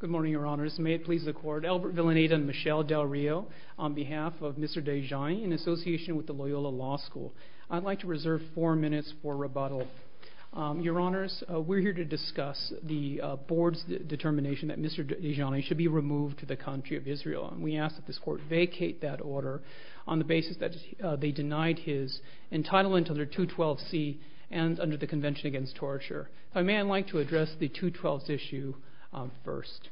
Good morning, Your Honors. May it please the Court, Albert Villaneta and Michelle Del Rio on behalf of Mr. Dajani in association with the Loyola Law School. I'd like to reserve four minutes for rebuttal. Your Honors, we're here to discuss the Board's determination that Mr. Dajani should be removed to the country of Israel. We ask that this Court vacate that order on the basis that they denied his entitlement under 212C and under the Convention Against Torture. If I may, I'd like to address the 212 issue first.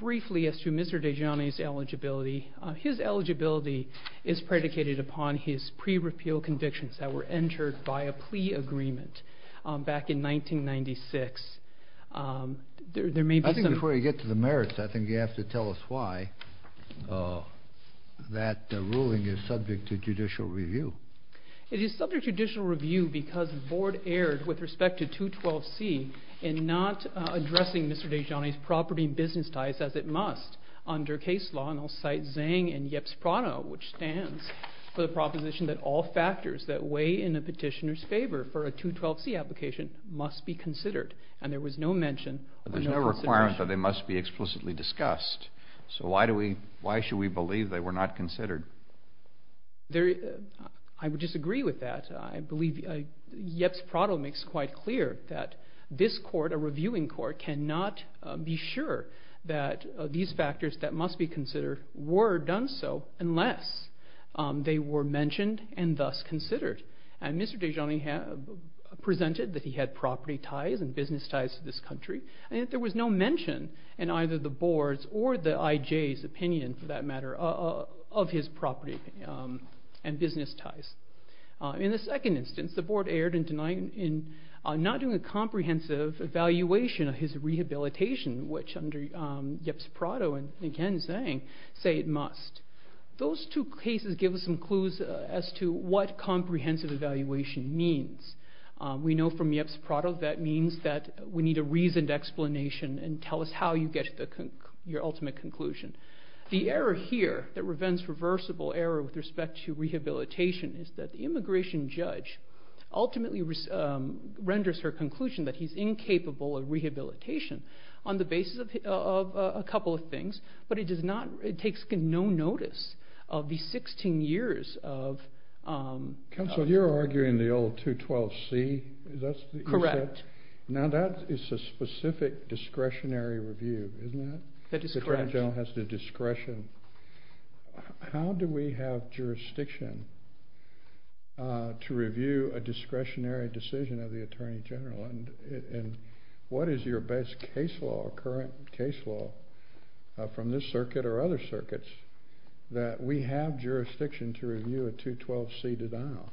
Briefly as to Mr. Dajani's eligibility, his eligibility is predicated upon his pre-repeal convictions that were entered by a plea agreement back in 1996. I think before you get to the merits, I think you have to tell us why that ruling is subject to judicial review. It is subject to judicial review because the Board erred with respect to 212C in not addressing Mr. Dajani's property and business ties as it must. Under case law, and I'll cite Zhang and Yeps Prado, which stands for the proposition that all factors that weigh in a petitioner's favor for a 212C application must be considered, and there was no mention of no consideration. There's no requirement that they must be explicitly discussed, so why should we believe they were not considered? I would disagree with that. I believe Yeps Prado makes it quite clear that this Court, a reviewing Court, cannot be sure that these factors that must be considered were done so unless they were mentioned and thus considered. Mr. Dajani presented that he had property ties and business ties to this country, and yet there was no mention in either the Board's or the IJ's opinion, for that matter, of his property and business ties. In the second instance, the Board erred in not doing a comprehensive evaluation of his rehabilitation, which under Yeps Prado and again Zhang say it must. Those two cases give us some clues as to what comprehensive evaluation means. We know from Yeps Prado that means that we need a reasoned explanation and tell us how you get your ultimate conclusion. The error here that prevents reversible error with respect to rehabilitation is that the immigration judge ultimately renders her conclusion that he's incapable of rehabilitation on the basis of a couple of things, but it takes no notice of the 16 years of... Counsel, you're arguing the old 212C? Correct. Now that is a specific discretionary review, isn't it? That is correct. The Attorney General has the discretion. How do we have jurisdiction to review a discretionary decision of the Attorney General? And what is your best case law, current case law, from this circuit or other circuits that we have jurisdiction to review a 212C denial?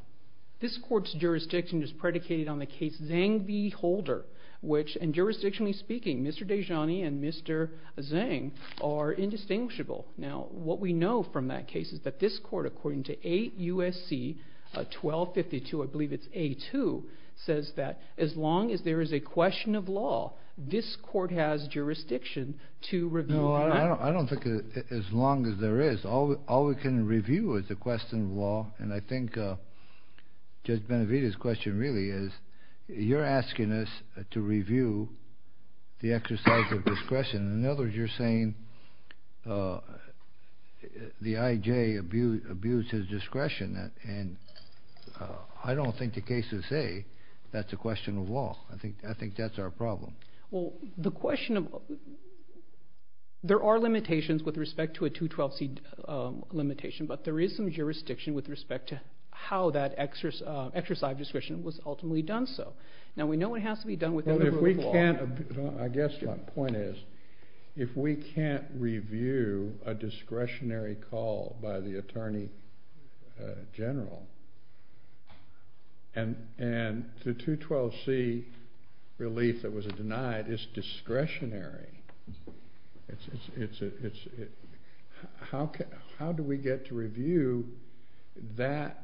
This court's jurisdiction is predicated on the case Zhang v. Holder, which, and jurisdictionally speaking, Mr. Dejani and Mr. Zhang are indistinguishable. Now, what we know from that case is that this court, according to 8 U.S.C. 1252, I believe it's A2, says that as long as there is a question of law, this court has jurisdiction to review that. I don't think as long as there is. All we can review is a question of law, and I think Judge Benavidez's question really is you're asking us to review the exercise of discretion. In other words, you're saying the I.J. abused his discretion, and I don't think the cases say that's a question of law. I think that's our problem. Well, the question of – there are limitations with respect to a 212C limitation, but there is some jurisdiction with respect to how that exercise of discretion was ultimately done so. Now, we know it has to be done within the rule of law. I guess my point is if we can't review a discretionary call by the attorney general and the 212C relief that was denied is discretionary, how do we get to review that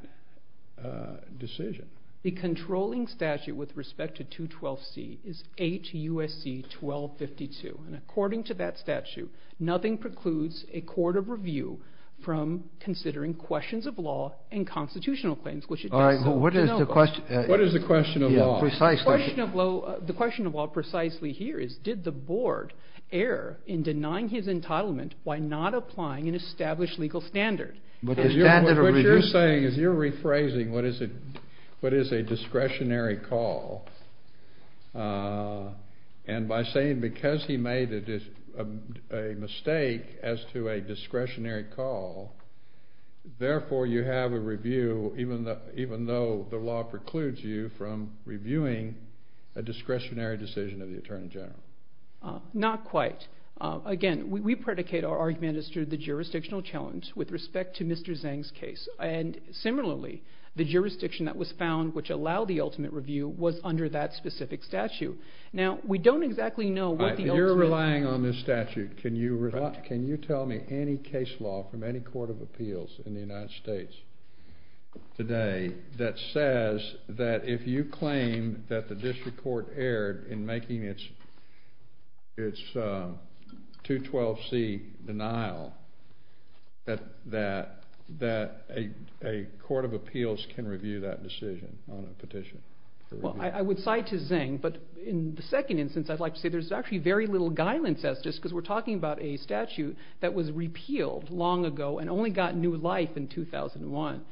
decision? The controlling statute with respect to 212C is H.U.S.C. 1252, and according to that statute, nothing precludes a court of review from considering questions of law and constitutional claims, which it does so. All right. What is the question of law? Precisely. The question of law precisely here is did the board err in denying his entitlement by not applying an established legal standard? What you're saying is you're rephrasing what is a discretionary call, and by saying because he made a mistake as to a discretionary call, therefore you have a review even though the law precludes you from reviewing a discretionary decision of the attorney general. Not quite. Again, we predicate our argument as to the jurisdictional challenge with respect to Mr. Zhang's case, and similarly, the jurisdiction that was found which allowed the ultimate review was under that specific statute. Now, we don't exactly know what the ultimate... You're relying on this statute. Can you tell me any case law from any court of appeals in the United States today that says that if you claim that the district court erred in making its 212C denial, that a court of appeals can review that decision on a petition? Well, I would cite to Zhang, but in the second instance, I'd like to say there's actually very little guile and justice because we're talking about a statute that was repealed long ago and only got new life in 2001.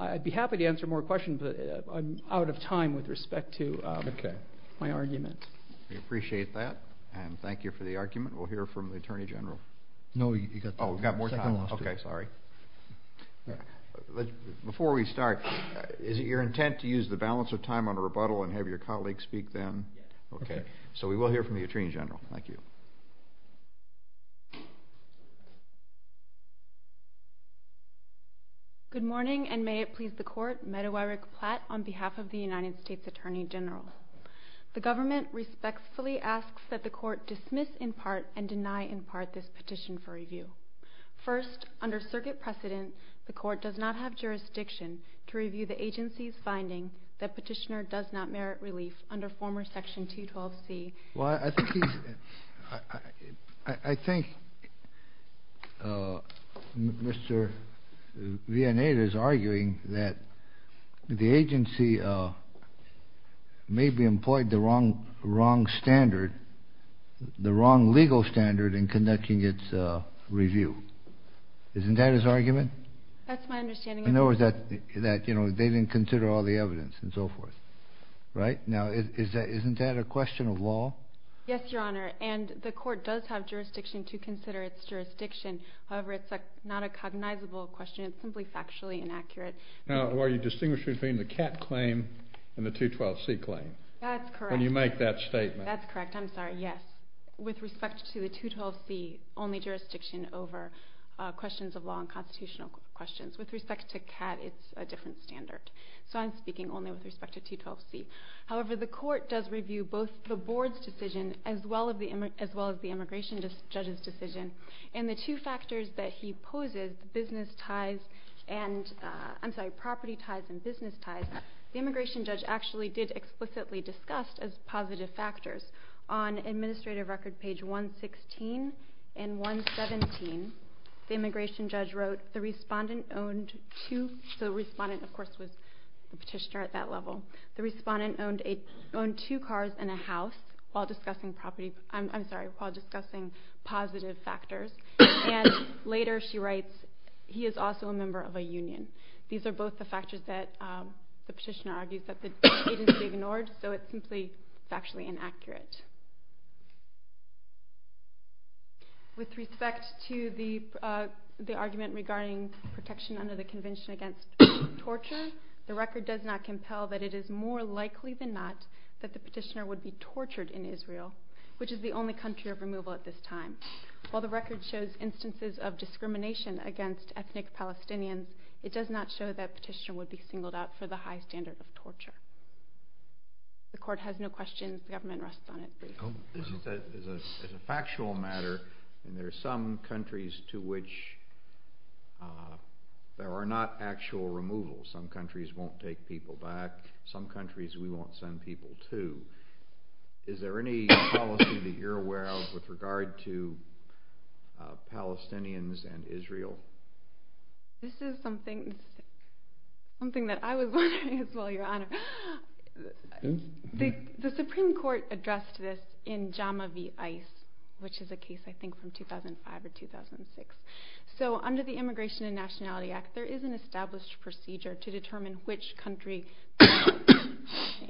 I'd be happy to answer more questions, but I'm out of time with respect to my argument. We appreciate that, and thank you for the argument. We'll hear from the attorney general. No, you've got time. Oh, we've got more time. Okay, sorry. Before we start, is it your intent to use the balance of time on a rebuttal and have your colleague speak then? Yes. Okay. So we will hear from the attorney general. Thank you. Good morning, and may it please the court, Medawarik Platt on behalf of the United States Attorney General. The government respectfully asks that the court dismiss in part and deny in part this petition for review. First, under circuit precedent, the court does not have jurisdiction to review the agency's finding that petitioner does not merit relief under former section 212C. Well, I think he's – I think Mr. Vianade is arguing that the agency maybe employed the wrong standard, the wrong legal standard in conducting its review. Isn't that his argument? That's my understanding, Your Honor. In other words, that they didn't consider all the evidence and so forth, right? Now, isn't that a question of law? Yes, Your Honor, and the court does have jurisdiction to consider its jurisdiction. However, it's not a cognizable question. It's simply factually inaccurate. Now, are you distinguishing between the CAT claim and the 212C claim? That's correct. When you make that statement. That's correct. I'm sorry. Yes. With respect to the 212C, only jurisdiction over questions of law and constitutional questions. With respect to CAT, it's a different standard. So I'm speaking only with respect to 212C. However, the court does review both the board's decision as well as the immigration judge's decision. And the two factors that he poses, property ties and business ties, the immigration judge actually did explicitly discuss as positive factors. On Administrative Record page 116 and 117, the immigration judge wrote, so the respondent, of course, was the petitioner at that level. The respondent owned two cars and a house while discussing positive factors. And later she writes, he is also a member of a union. These are both the factors that the petitioner argues that the agency ignored. So it's simply factually inaccurate. With respect to the argument regarding protection under the Convention Against Torture, the record does not compel that it is more likely than not that the petitioner would be tortured in Israel, which is the only country of removal at this time. While the record shows instances of discrimination against ethnic Palestinians, it does not show that petitioner would be singled out for the high standard of torture. The court has no questions. The government rests on it. This is a factual matter, and there are some countries to which there are not actual removals. Some countries won't take people back. Some countries we won't send people to. Is there any policy that you're aware of with regard to Palestinians and Israel? This is something that I was wondering as well, Your Honor. The Supreme Court addressed this in JAMA v. ICE, which is a case I think from 2005 or 2006. So under the Immigration and Nationality Act, there is an established procedure to determine which country an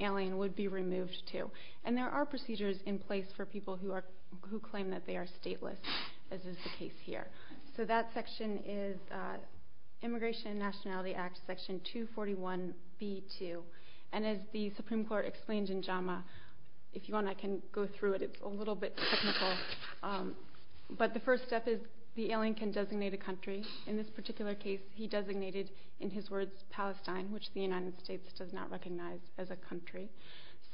alien would be removed to. And there are procedures in place for people who claim that they are stateless, as is the case here. So that section is Immigration and Nationality Act, Section 241b-2. And as the Supreme Court explained in JAMA, if you want I can go through it. It's a little bit technical. But the first step is the alien can designate a country. In this particular case, he designated, in his words, Palestine, which the United States does not recognize as a country.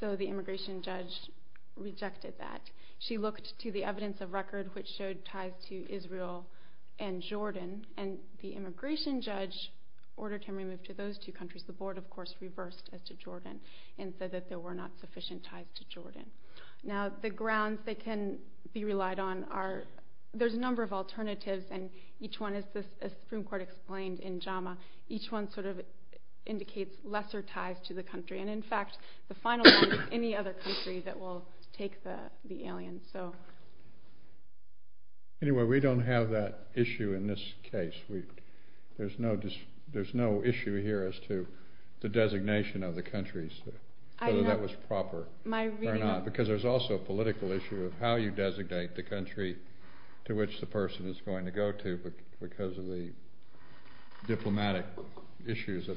So the immigration judge rejected that. She looked to the evidence of record, which showed ties to Israel and Jordan. And the immigration judge ordered him removed to those two countries. The Board, of course, reversed as to Jordan and said that there were not sufficient ties to Jordan. Now the grounds that can be relied on are, there's a number of alternatives. And each one, as the Supreme Court explained in JAMA, each one sort of indicates lesser ties to the country. And, in fact, the final one is any other country that will take the alien. Anyway, we don't have that issue in this case. There's no issue here as to the designation of the countries, whether that was proper or not, because there's also a political issue of how you designate the country to which the person is going to go to because of the diplomatic issues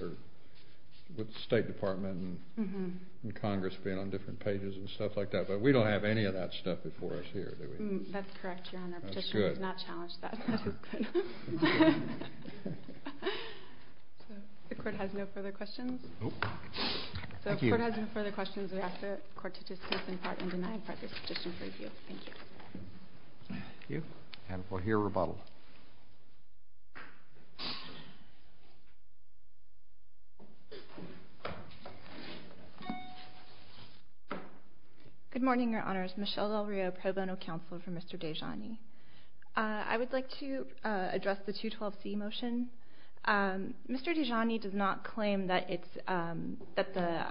with the State Department and Congress being on different pages and stuff like that. But we don't have any of that stuff before us here, do we? That's correct, Your Honor. The petitioner has not challenged that. That is good. The Court has no further questions. The Court has no further questions. We ask the Court to dismiss in part and deny in part this petition for review. Thank you. Thank you. And we'll hear rebuttal. Good morning, Your Honors. Michelle Del Rio, Pro Bono Counselor for Mr. Dejani. I would like to address the 212C motion. Mr. Dejani does not claim that the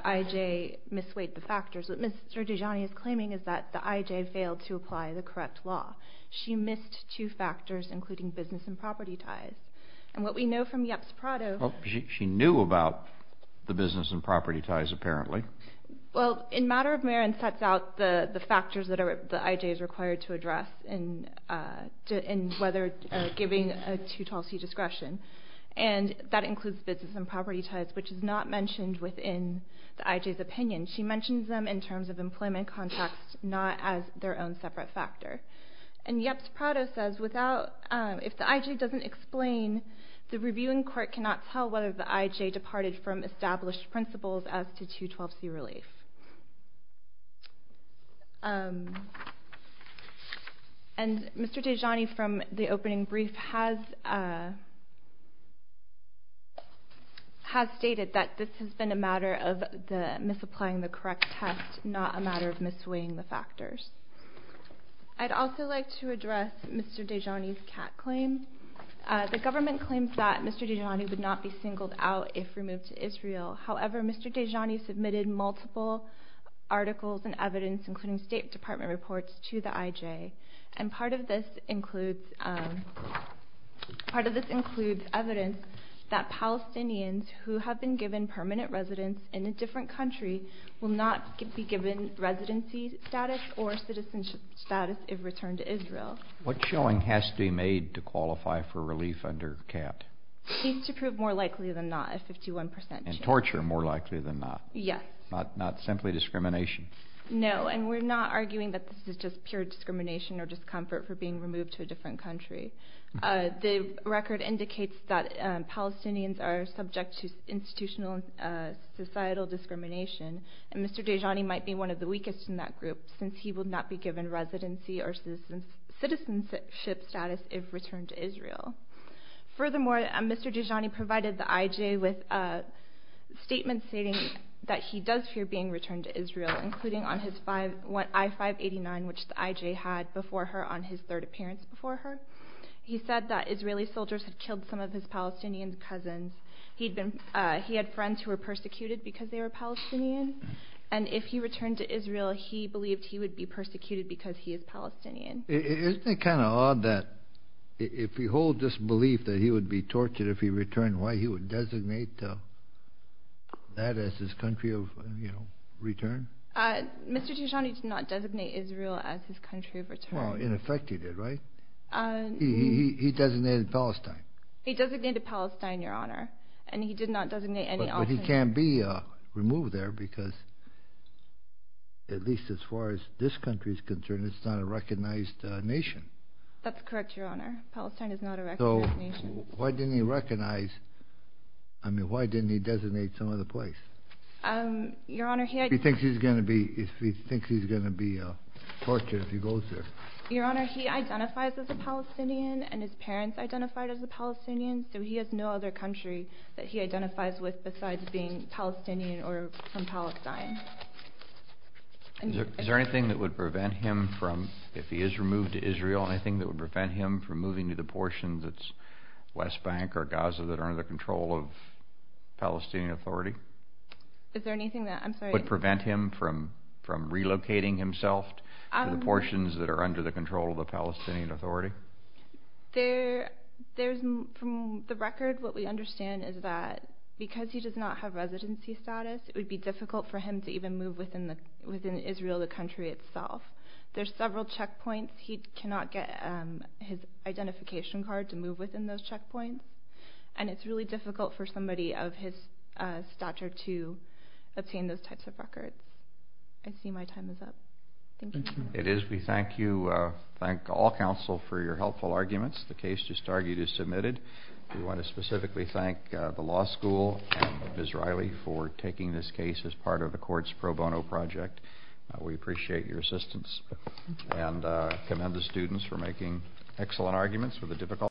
IJ misweighed the factors. What Mr. Dejani is claiming is that the IJ failed to apply the correct law. She missed two factors, including business and property ties. And what we know from Yeps Prado... Well, she knew about the business and property ties, apparently. Well, in Matter of Merit, it sets out the factors that the IJ is required to address in whether giving a 212C discretion. And that includes business and property ties, which is not mentioned within the IJ's opinion. She mentions them in terms of employment contracts, not as their own separate factor. And Yeps Prado says, if the IJ doesn't explain, the reviewing court cannot tell whether the IJ departed from established principles as to 212C relief. And Mr. Dejani, from the opening brief, has stated that this has been a matter of misapplying the correct test, not a matter of misweighing the factors. I'd also like to address Mr. Dejani's cat claim. The government claims that Mr. Dejani would not be singled out if removed to Israel. However, Mr. Dejani submitted multiple articles and evidence, including State Department reports, to the IJ. And part of this includes evidence that Palestinians who have been given permanent residence in a different country will not be given residency status or citizenship status if returned to Israel. What showing has to be made to qualify for relief under CAT? It needs to prove more likely than not, a 51 percent chance. And torture more likely than not? Yes. Not simply discrimination? No, and we're not arguing that this is just pure discrimination or discomfort for being removed to a different country. The record indicates that Palestinians are subject to institutional and societal discrimination, and Mr. Dejani might be one of the weakest in that group since he would not be given residency or citizenship status if returned to Israel. Furthermore, Mr. Dejani provided the IJ with statements stating that he does fear being returned to Israel, including on his I-589, which the IJ had before her on his third appearance before her. He said that Israeli soldiers had killed some of his Palestinian cousins. He had friends who were persecuted because they were Palestinian. And if he returned to Israel, he believed he would be persecuted because he is Palestinian. Isn't it kind of odd that if he holds this belief that he would be tortured if he returned, why he would designate that as his country of return? Mr. Dejani did not designate Israel as his country of return. Well, in effect he did, right? He designated Palestine. He designated Palestine, Your Honor, and he did not designate any other. But he can't be removed there because, at least as far as this country is concerned, it's not a recognized nation. That's correct, Your Honor. Palestine is not a recognized nation. So why didn't he recognize? I mean, why didn't he designate some other place? He thinks he's going to be tortured if he goes there. Your Honor, he identifies as a Palestinian, and his parents identified as a Palestinian, so he has no other country that he identifies with besides being Palestinian or from Palestine. Is there anything that would prevent him from, if he is removed to Israel, anything that would prevent him from moving to the portion that's West Bank or Gaza that are under the control of Palestinian Authority? Is there anything that I'm sorry? Would prevent him from relocating himself to the portions that are under the control of the Palestinian Authority? From the record, what we understand is that because he does not have residency status, it would be difficult for him to even move within Israel, the country itself. There's several checkpoints. He cannot get his identification card to move within those checkpoints, and it's really difficult for somebody of his stature to obtain those types of records. I see my time is up. Thank you. It is. We thank you. Thank all counsel for your helpful arguments. The case just argued is submitted. We want to specifically thank the law school and Ms. Riley for taking this case as part of the courts pro bono project. We appreciate your assistance and commend the students for making excellent arguments with the difficult.